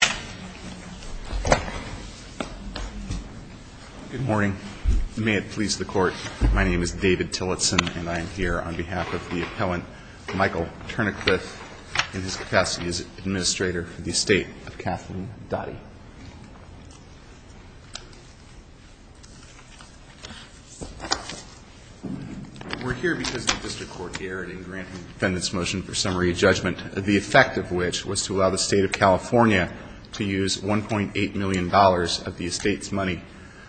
Good morning. May it please the court, my name is David Tillotson and I am here on behalf of the appellant Michael Turnacliff in his capacity as administrator for the estate of Kathleen Dottie. We're here because the district court here in granting the defendant's motion for summary judgment, the effect of which was to allow the state of California to use $1.8 million of the estate's money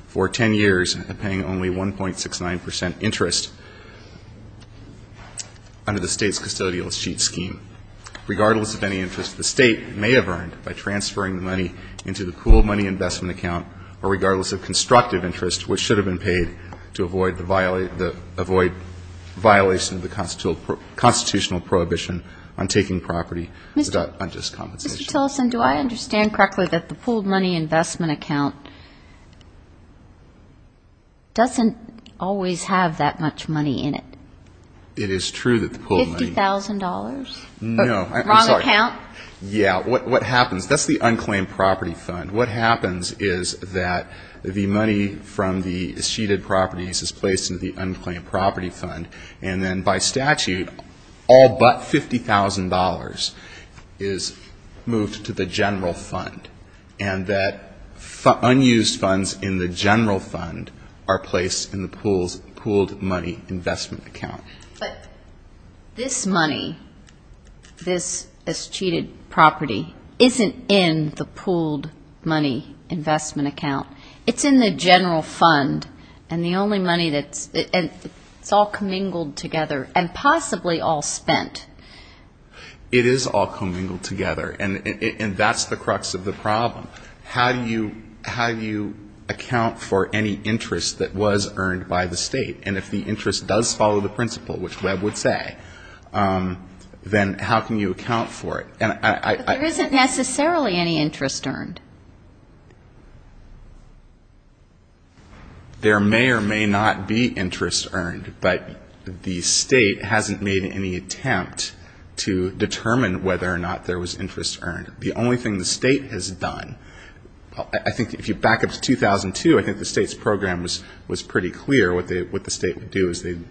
for 10 years and paying only 1.69 percent interest under the state's custodial sheet scheme. Regardless of any interest the state may have earned by transferring the money into the cool money investment account or regardless of constructive interest which should have been paid to avoid the violation of the constitutional prohibition on taking property without unjust compensation. Mr. Tillotson, do I understand correctly that the pooled money investment account doesn't always have that much money in it? It is true that the pooled money. $50,000? No. Wrong account? Yeah, what happens, that's the unclaimed property fund. What happens is that the money from the sheeted properties is placed in the unclaimed property fund and then by statute all but $50,000 is moved to the general fund and that unused funds in the general fund are placed in the pooled money investment account. But this money, this is sheeted property, isn't in the pooled money investment account. It's in the general fund and the only money that's, it's all commingled together and possibly all spent. It is all commingled together and that's the crux of the problem. How do you account for any interest that was earned by the state and if the interest does follow the principle which Webb would say, then how can you account for it? There isn't necessarily any interest earned. There may or may not be interest earned, but the state hasn't made any attempt to determine whether or not there was interest earned. The only thing the state has done, I think if you back up to 2002, I think the state's program was pretty clear what the state would do is they'd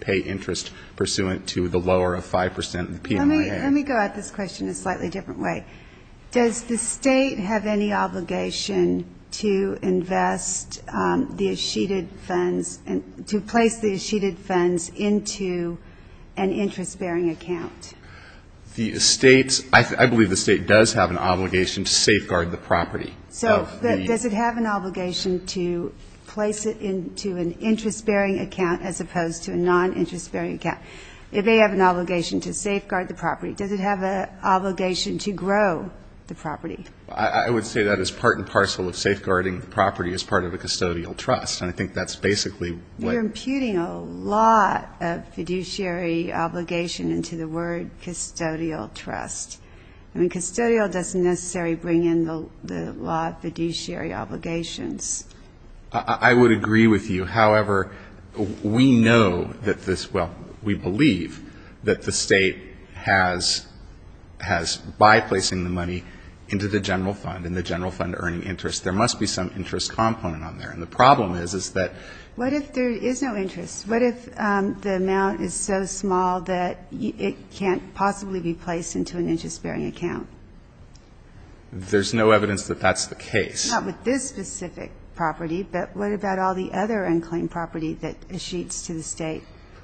pay interest pursuant to the different way. Does the state have any obligation to invest the sheeted funds, to place the sheeted funds into an interest-bearing account? The state, I believe the state does have an obligation to safeguard the property. So does it have an obligation to place it into an interest-bearing account as opposed to a non-interest-bearing account? It may have an obligation to safeguard the property. Does it have an obligation to grow the property? I would say that is part and parcel of safeguarding the property as part of a custodial trust. I think that's basically what You're imputing a lot of fiduciary obligation into the word custodial trust. I mean custodial doesn't necessarily bring in a lot of fiduciary obligations. I would agree with you. However, we know that this, well, we believe that the state has, by placing the money into the general fund and the general fund earning interest, there must be some interest component on there. And the problem is, is that What if there is no interest? What if the amount is so small that it can't possibly be placed into an interest-bearing account? There's no evidence that that's the case. Not with this specific property, but what about all the other unclaimed property that eschews to the state?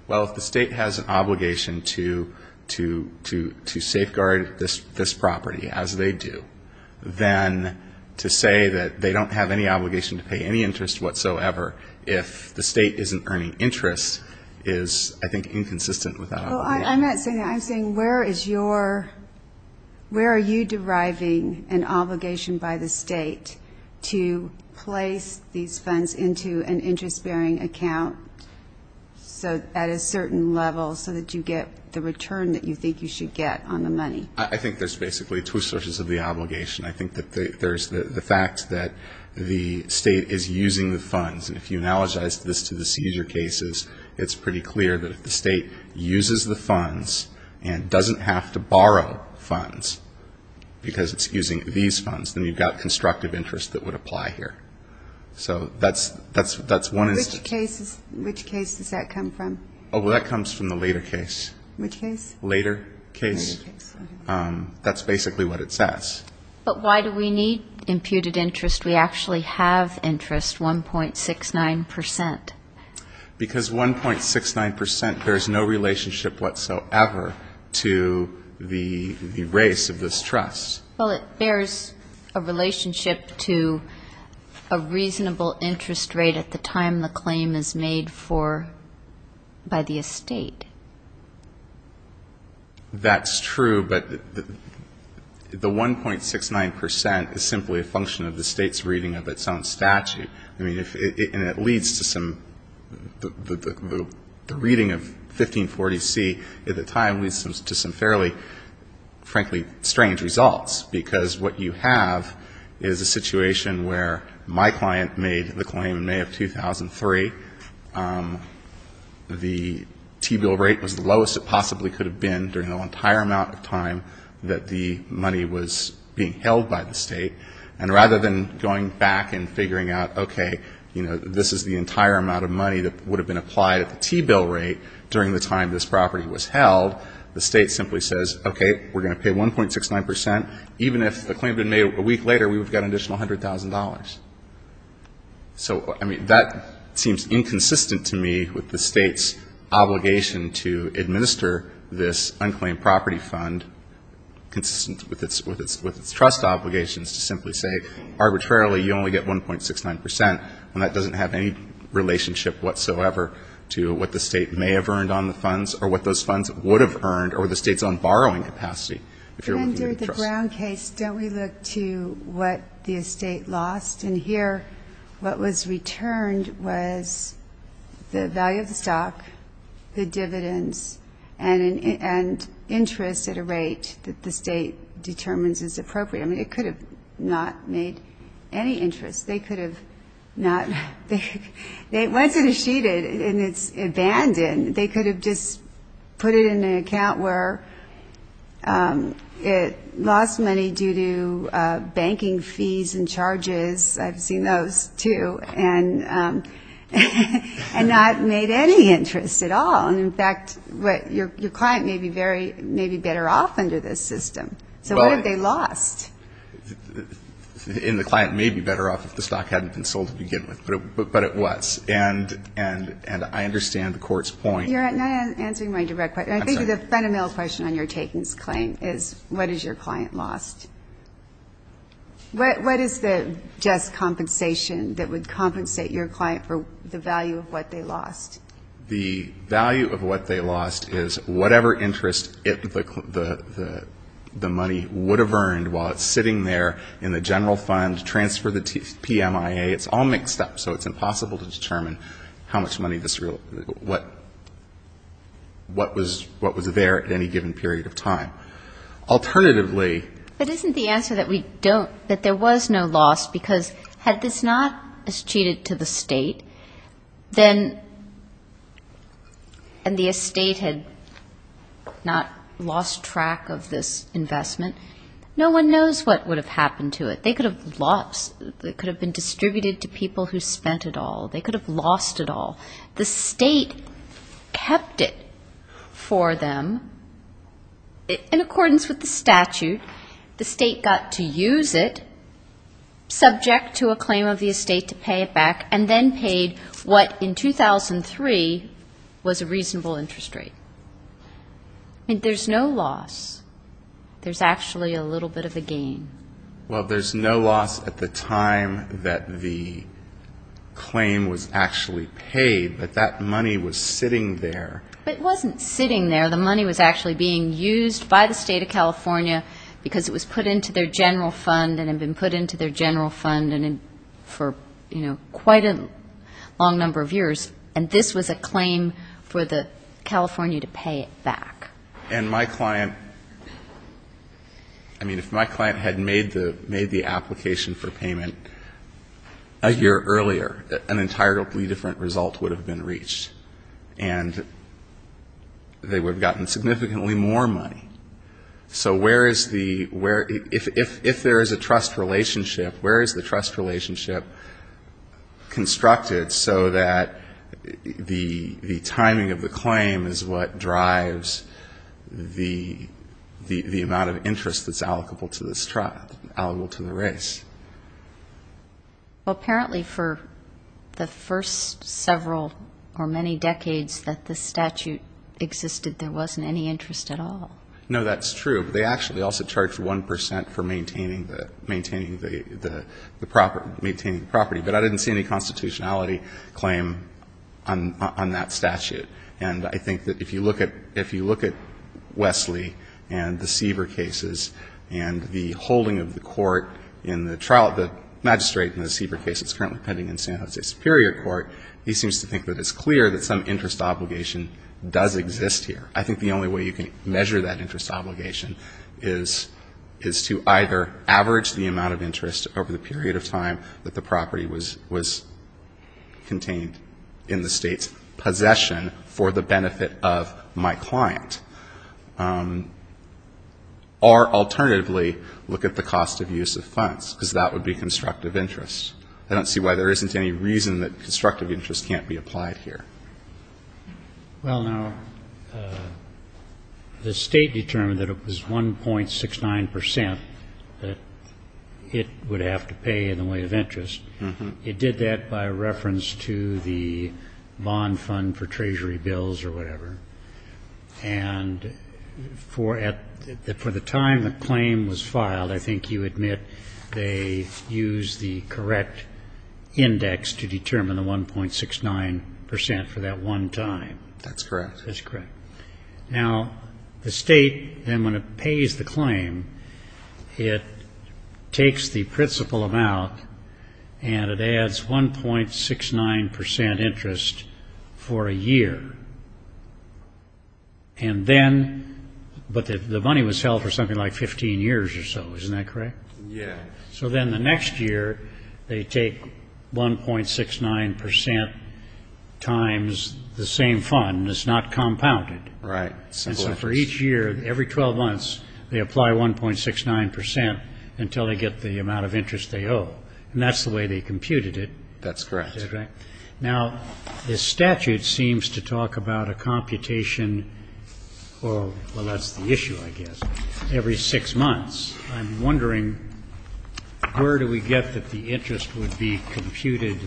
Well, if the state has an obligation to safeguard this property, as they do, then to say that they don't have any obligation to pay any interest whatsoever if the state isn't earning interest is, I think, inconsistent with that obligation. Well, I'm not saying that. I'm saying where is your, where are you deriving an obligation by the state to place these funds into an interest-bearing account at a certain level so that you get the return that you think you should get on the money? I think there's basically two sources of the obligation. I think that there's the fact that the state is using the funds. And if you analogize this to the seizure cases, it's pretty clear that if the state uses the funds and doesn't have to borrow funds because it's using these funds, then you've got constructive interest that would apply here. So that's one instance. Which case does that come from? Oh, well, that comes from the later case. Which case? Later case. That's basically what it says. But why do we need imputed interest? We actually have interest, 1.69 percent. Because 1.69 percent bears no relationship whatsoever to the race of this trust. Well, it bears a relationship to a reasonable interest rate at the time the claim is made for, by the estate. That's true, but the 1.69 percent is simply a function of the state's reading of its own claim. The reading of 1540C at the time leads to some fairly, frankly, strange results. Because what you have is a situation where my client made the claim in May of 2003. The T-bill rate was the lowest it possibly could have been during the entire amount of time that the money was being held by the state. And rather than going back and figuring out, okay, this is the entire amount of money that would have been applied at the T-bill rate during the time this property was held, the state simply says, okay, we're going to pay 1.69 percent. Even if the claim had been made a week later, we would have got an additional $100,000. So that seems inconsistent to me with the state's obligation to administer this unclaimed property fund consistent with its trust obligations to simply say, arbitrarily, you only get 1.69 percent. And that doesn't have any relationship whatsoever to what the state may have earned on the funds or what those funds would have earned or the state's own borrowing capacity if you're looking at the trust. But under the Brown case, don't we look to what the estate lost? And here, what was returned was the value of the stock, the dividends, and interest at a rate that the state determines is appropriate. I mean, it could have not made any interest. They could have not. Once it is sheeted and it's abandoned, they could have just put it in an account where it lost money due to banking fees and charges. I've seen those, too, and not made any interest at all. And in fact, your client may be better off under this system. So what if they lost money? And the client may be better off if the stock hadn't been sold to begin with. But it was. And I understand the Court's point. You're not answering my direct question. I think the fundamental question on your takings claim is, what has your client lost? What is the just compensation that would compensate your client for the value of what they lost? The value of what they lost is whatever interest the money would have earned while it's sitting there in the general fund, transfer the PMIA. It's all mixed up. So it's impossible to determine how much money this really was, what was there at any given period of time. Alternatively But isn't the answer that we don't, that there was no loss because had this not cheated to the state, then, and the estate had not lost track of this investment, no one knows what would have happened to it. They could have lost, it could have been distributed to people who spent it all. They could have lost it all. The state kept it for them in accordance with the statute. The state got to use it, subject to a claim of the estate to pay it and then paid what in 2003 was a reasonable interest rate. There's no loss. There's actually a little bit of a gain. Well, there's no loss at the time that the claim was actually paid, but that money was sitting there. But it wasn't sitting there. The money was actually being used by the state of California because it was put into their general fund and had been put into their general fund for quite a long number of years. And this was a claim for the California to pay it back. And my client, I mean, if my client had made the application for payment a year earlier, an entirely different result would have been reached. And they would have gotten significantly more money. So where is the, if there is a trust relationship, where is the trust relationship constructed so that the timing of the claim is what drives the amount of interest that's allocable to this trust, allocable to the race? Well, apparently for the first several or many decades that the statute existed, there wasn't any interest at all. No, that's true. But they actually also charged 1% for maintaining the property. But I didn't see any constitutionality claim on that statute. And I think that if you look at Wesley and the Seaver cases and the holding of the court in the trial, the magistrate in the Seaver case that's currently pending in San Jose Superior Court, he seems to think that it's clear that some interest obligation does exist here. I think the only way you can measure that interest obligation is to either average the period of time that the property was contained in the state's possession for the benefit of my client, or alternatively, look at the cost of use of funds, because that would be constructive interest. I don't see why there isn't any reason that constructive interest can't be applied here. Well, now, the state determined that it was 1.69% that it would have to pay for the property. It didn't have to pay in the way of interest. It did that by reference to the bond fund for treasury bills or whatever. And for the time the claim was filed, I think you admit they used the correct index to determine the 1.69% for that one time. That's correct. That's correct. Now, the state, then, when it pays the claim, it takes the principal amount, and it adds 1.69% interest for a year. But the money was held for something like 15 years or so, isn't that correct? Yes. So then the next year, they take 1.69% times the same fund, and it's not compounded. Right. And so for each year, every 12 months, they apply 1.69% until they get the amount of interest they owe. And that's the way they computed it. That's correct. Now, the statute seems to talk about a computation, or, well, that's the issue, I guess, every six months. I'm wondering, where do we get that the interest would be computed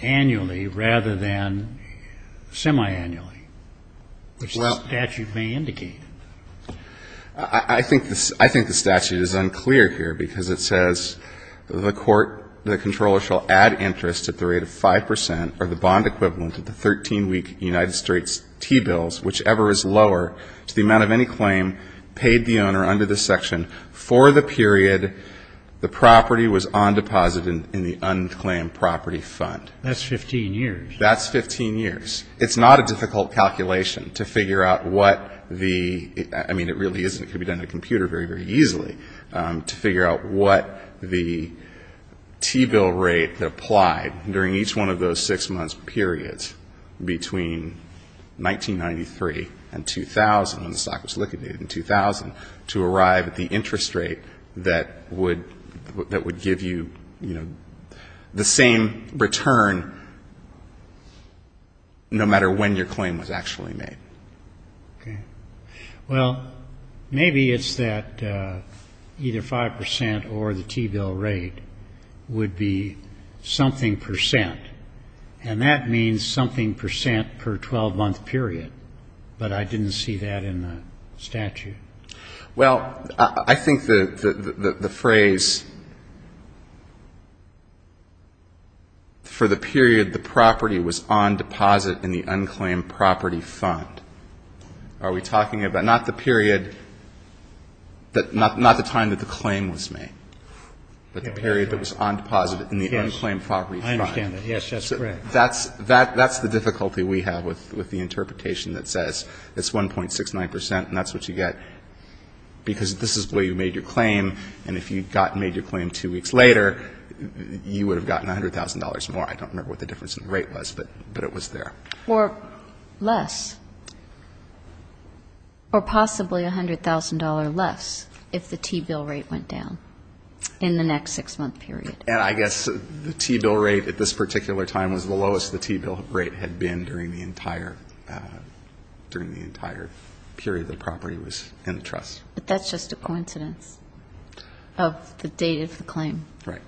annually rather than semiannually, which the statute may indicate? I think the statute is unclear here, because it says, the court, the controller shall add interest at the rate of 5% or the bond equivalent of the 13-week United States T-bills, whichever is lower, to the amount of any claim paid the owner under this section for the period the property was on deposit in the unclaimed property fund. That's 15 years. That's 15 years. It's not a difficult calculation to figure out what the, I mean, it really isn't. It could be done on a computer very, very easily, to figure out what the T-bill rate that applied during each one of those six-month periods between 1993 and 2000, when the stock was liquidated in 2000, to arrive at the interest rate that would give you the same return no matter when your claim was actually made. Well, maybe it's that either 5% or the T-bill rate would be something percent, and that means something percent per 12-month period, but I didn't see that in the statute. Well, I think the phrase, for the period the property was on deposit in the unclaimed property fund, are we talking about not the period, not the time that the claim was made, but the period that was on deposit in the unclaimed property fund. Yes. I understand that. Yes, that's correct. That's the difficulty we have with the interpretation that says it's 1.69%, and that's what you get, because this is where you made your claim, and if you had made your claim two weeks later, you would have gotten $100,000 more. I don't remember what the difference in the rate was, but it was there. Or less, or possibly $100,000 less if the T-bill rate went down in the next six-month period. And I guess the T-bill rate at this particular time was the lowest the T-bill rate had been during the entire period the property was in the trust. But that's just a coincidence of the date of the claim. Right.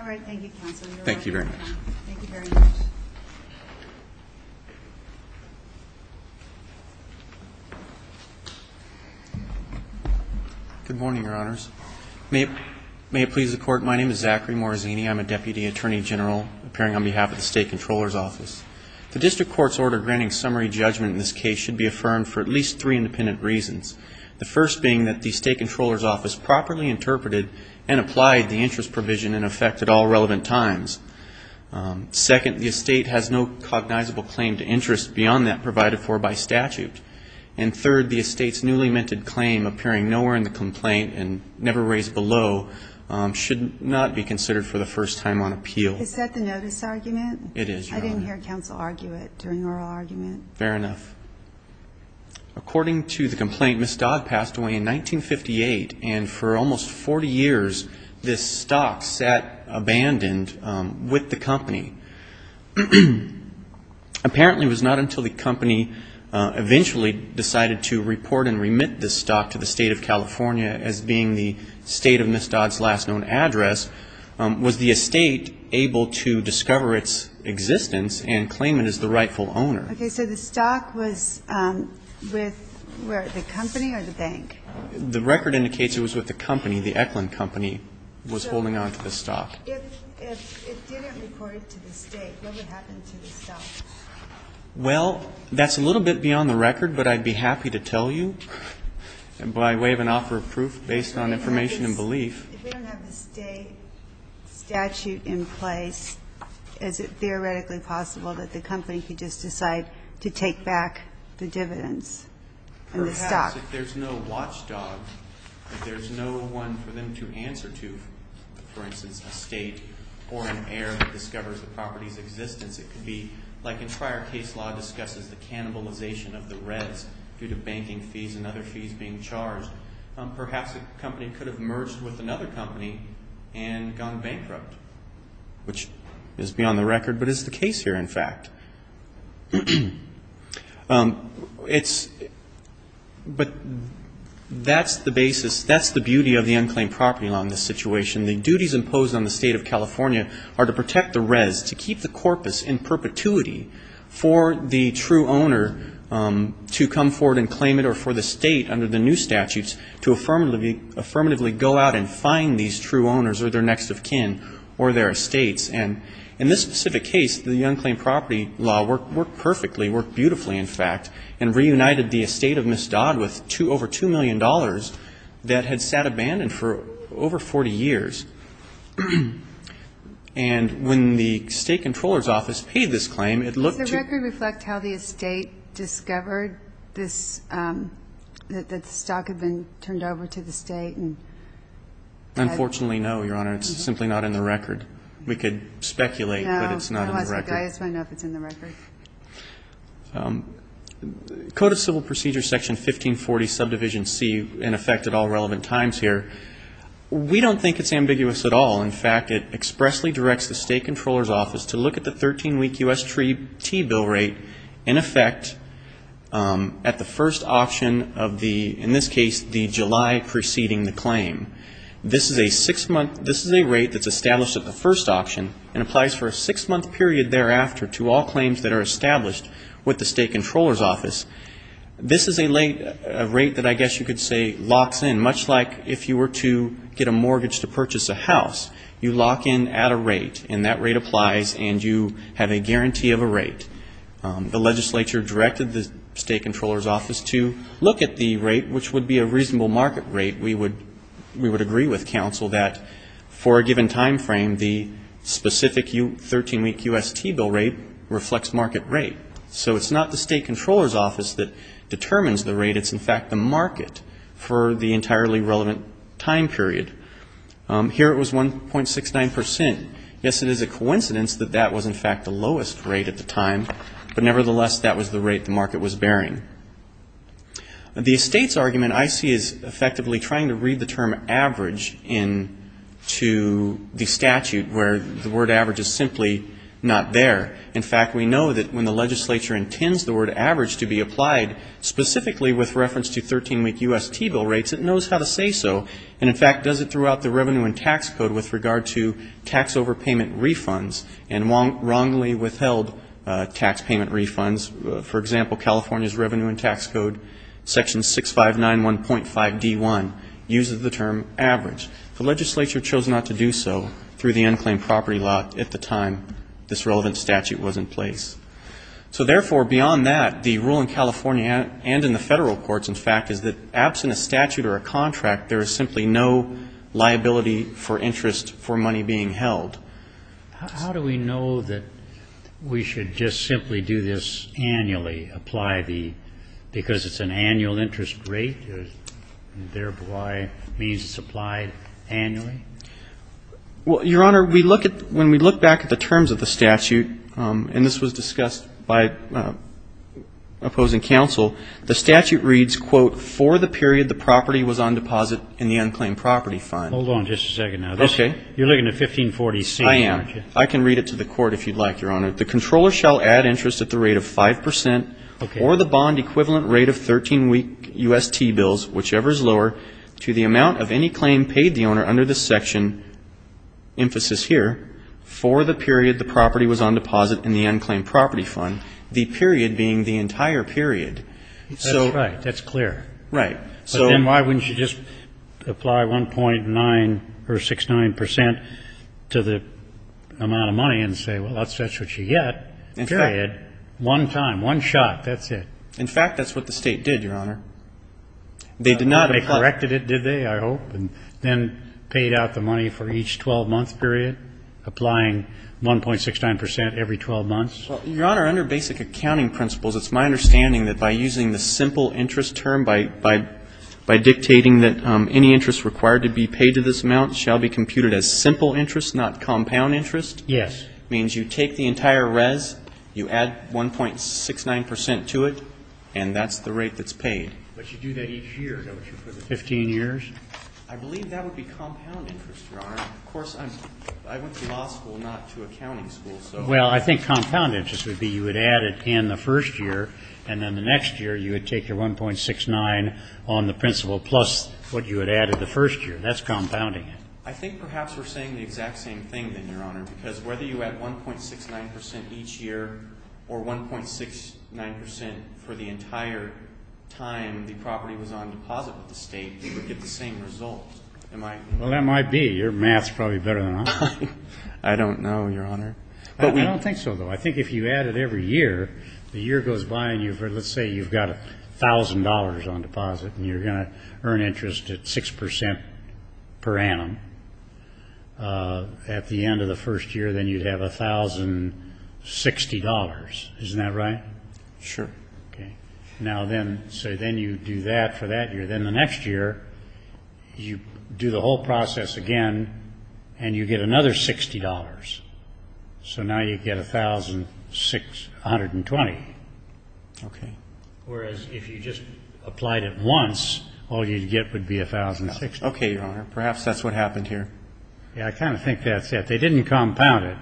All right. Thank you, counsel. You're welcome. Thank you very much. Good morning, Your Honors. May it please the Court, my name is Zachary Morazzini. I'm a Deputy Attorney General appearing on behalf of the State Comptroller's Office. The District Court's order granting summary judgment in this case should be affirmed for at least three independent reasons. The first being that the State Comptroller's Office properly interpreted and applied the interest provision in effect at all relevant times. Second, the estate has no cognizable claim to interest beyond that provided for by statute. And third, the estate's newly minted claim appearing nowhere in the complaint and never be considered for the first time on appeal. Is that the notice argument? It is, Your Honor. I didn't hear counsel argue it during oral argument. Fair enough. According to the complaint, Ms. Dodd passed away in 1958 and for almost 40 years this stock sat abandoned with the company. Apparently it was not until the company eventually decided to report and remit this stock to the State of California as being the state of Ms. Dodd's last known address was the estate able to discover its existence and claim it as the rightful owner. Okay. So the stock was with the company or the bank? The record indicates it was with the company. The Eklund Company was holding on to the stock. If it didn't report to the state, what would happen to the stock? Well, that's a little bit beyond the record, but I'd be happy to tell you by way of an offer of proof based on information and belief. If we don't have a state statute in place, is it theoretically possible that the company could just decide to take back the dividends and the stock? Perhaps if there's no watchdog, if there's no one for them to answer to, for instance, a state or an heir that discovers the property's existence, it could be like in prior case law discusses the cannibalization of the res due to banking fees and other fees being charged. Perhaps the company could have merged with another company and gone bankrupt, which is beyond the record but is the case here, in fact. But that's the basis, that's the beauty of the unclaimed property law in this situation. The duties imposed on the state of California are to protect the res, to keep the corpus in perpetuity for the true owner to come forward and claim it or for the state under the new statutes to affirmatively go out and find these true owners or their next of kin or their estates. And in this specific case, the unclaimed property law worked perfectly, worked beautifully, in fact, and reunited the estate of Ms. Dodd with over $2 million that had sat abandoned for over 40 years. And when the state comptroller's office paid this claim, it looked to- Does the record reflect how the estate discovered this, that the stock had been turned over to the state and- Unfortunately, no, Your Honor. It's simply not in the record. We could speculate that it's not in the record. I just want to know if it's in the record. Code of Civil Procedure Section 1540, Subdivision C, in effect, at all relevant times here. We don't think it's ambiguous at all. In fact, it expressly directs the state comptroller's office to look at the 13-week U.S. tree T-bill rate in effect at the first option of the, in this case, the July preceding the claim. This is a six-month, this is a rate that's established at the first option and applies for a six-month period thereafter to all claims that are established with the state comptroller's office. This is a rate that I guess you could say locks in, much like if you were to get a mortgage to purchase a house. You lock in at a rate, and that rate applies, and you have a guarantee of a rate. The legislature directed the state comptroller's office to look at the rate, which would be a reasonable market rate. We would agree with counsel that for a given time frame, the specific 13-week U.S. T-bill rate reflects market rate. So it's not the state comptroller's office that determines the rate. It's, in fact, the market for the entirely relevant time period. Here it was 1.69%. Yes, it is a coincidence that that was, in fact, the lowest rate at the time, but nevertheless, that was the rate the market was bearing. The state's argument, I see, is effectively trying to read the term average into the statute, where the word average is simply not there. In fact, we know that when the legislature intends the word average to be applied specifically with reference to 13-week U.S. T-bill rates, it knows how to say so, and, in fact, does it throughout the Revenue and Tax Code with regard to tax overpayment refunds and wrongly withheld tax payment refunds. For example, California's Revenue and Tax Code, Section 6591.5d1, uses the term average. The legislature chose not to do so through the unclaimed property lot at the time this relevant statute was in place. So, therefore, beyond that, the rule in California and in the federal courts, in fact, is that absent a statute or a contract, there is simply no liability for interest for money being held. How do we know that we should just simply do this annually, apply the, because it's an annual interest rate, and, therefore, it means it's applied annually? Well, Your Honor, we look at, when we look back at the terms of the statute, and this was discussed by opposing counsel, the statute reads, quote, for the period the property was on deposit in the unclaimed property fund. Hold on just a second now. Okay. You're looking at 1546, aren't you? I am. I can read it to the court if you'd like, Your Honor. The controller shall add interest at the rate of 5% or the bond equivalent rate of 13-week UST bills, whichever is lower, to the amount of any claim paid the owner under this section, emphasis here, for the period the property was on deposit in the unclaimed property fund, the period being the entire period. That's right. That's clear. Right. But then why wouldn't you just apply 1.9 or 6.9% to the amount of money and say, well, that's what you get, period, one time, one shot, that's it? In fact, that's what the State did, Your Honor. They did not apply. They corrected it, did they, I hope, and then paid out the money for each 12-month period, applying 1.69% every 12 months? Well, Your Honor, under basic accounting principles, it's my understanding that by using the simple interest term, by dictating that any interest required to be paid to this amount shall be computed as simple interest, not compound interest. Yes. It means you take the entire res, you add 1.69% to it, and that's the rate that's paid. But you do that each year, don't you, for the 15 years? I believe that would be compound interest, Your Honor. Of course, I went to law school, not to accounting school, so. Well, I think compound interest would be you would add it in the first year, and then the next year you would take your 1.69 on the principle plus what you had added the first year. That's compounding it. I think perhaps we're saying the exact same thing, then, Your Honor, because whether you add 1.69% each year or 1.69% for the entire time the property was on deposit with the State, you would get the same result. Well, that might be. Your math is probably better than mine. I don't know, Your Honor. But we don't think so, though. I think if you add it every year, the year goes by, and let's say you've got $1,000 on deposit, and you're going to earn interest at 6% per annum. At the end of the first year, then you'd have $1,060. Isn't that right? Sure. Okay. So then you do that for that year. Then the next year you do the whole process again, and you get another $60. So now you get $1,620. Okay. Whereas if you just applied it once, all you'd get would be $1,060. Okay, Your Honor. Perhaps that's what happened here. Yeah, I kind of think that's it. They didn't compound it.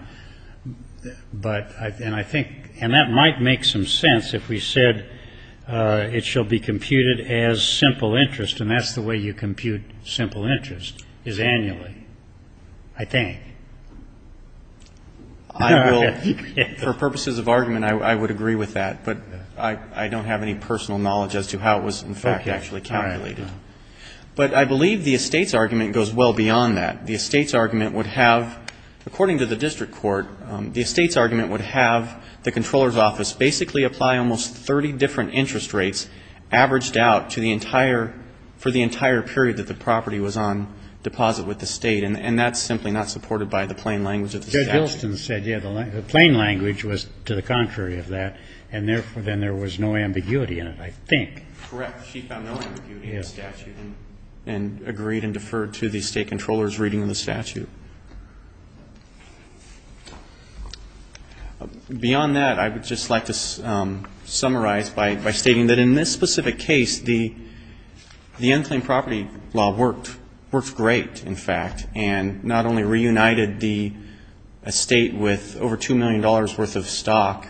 And that might make some sense if we said it shall be computed as simple interest, and that's the way you compute simple interest, is annually, I think. For purposes of argument, I would agree with that, but I don't have any personal knowledge as to how it was, in fact, actually calculated. But I believe the estates argument goes well beyond that. The estates argument would have, according to the district court, the estates argument would have the comptroller's office basically apply almost 30 different interest rates averaged out for the entire period that the property was on deposit with the state, and that's simply not supported by the plain language of the statute. Judge Hylston said, yeah, the plain language was to the contrary of that, and therefore then there was no ambiguity in it, I think. Correct. She found no ambiguity in the statute and agreed and deferred to the state comptroller's reading of the statute. Beyond that, I would just like to summarize by stating that in this specific case, the unclaimed property law worked great, in fact, and not only reunited the estate with over $2 million worth of stock,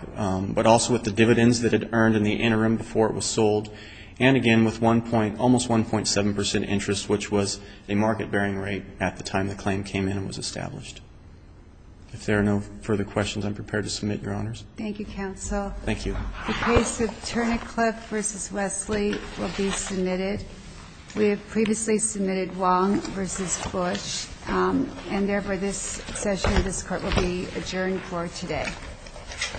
but also with the dividends that it earned in the interim before it was sold, and again with almost 1.7 percent interest, which was a market-bearing rate at the time the claim came in and was established. If there are no further questions, I'm prepared to submit, Your Honors. Thank you, counsel. Thank you. The case of Turnicliff v. Wesley will be submitted. We have previously submitted Wong v. Bush, and therefore this session of this Court will be adjourned for today. Thank you. Thank you.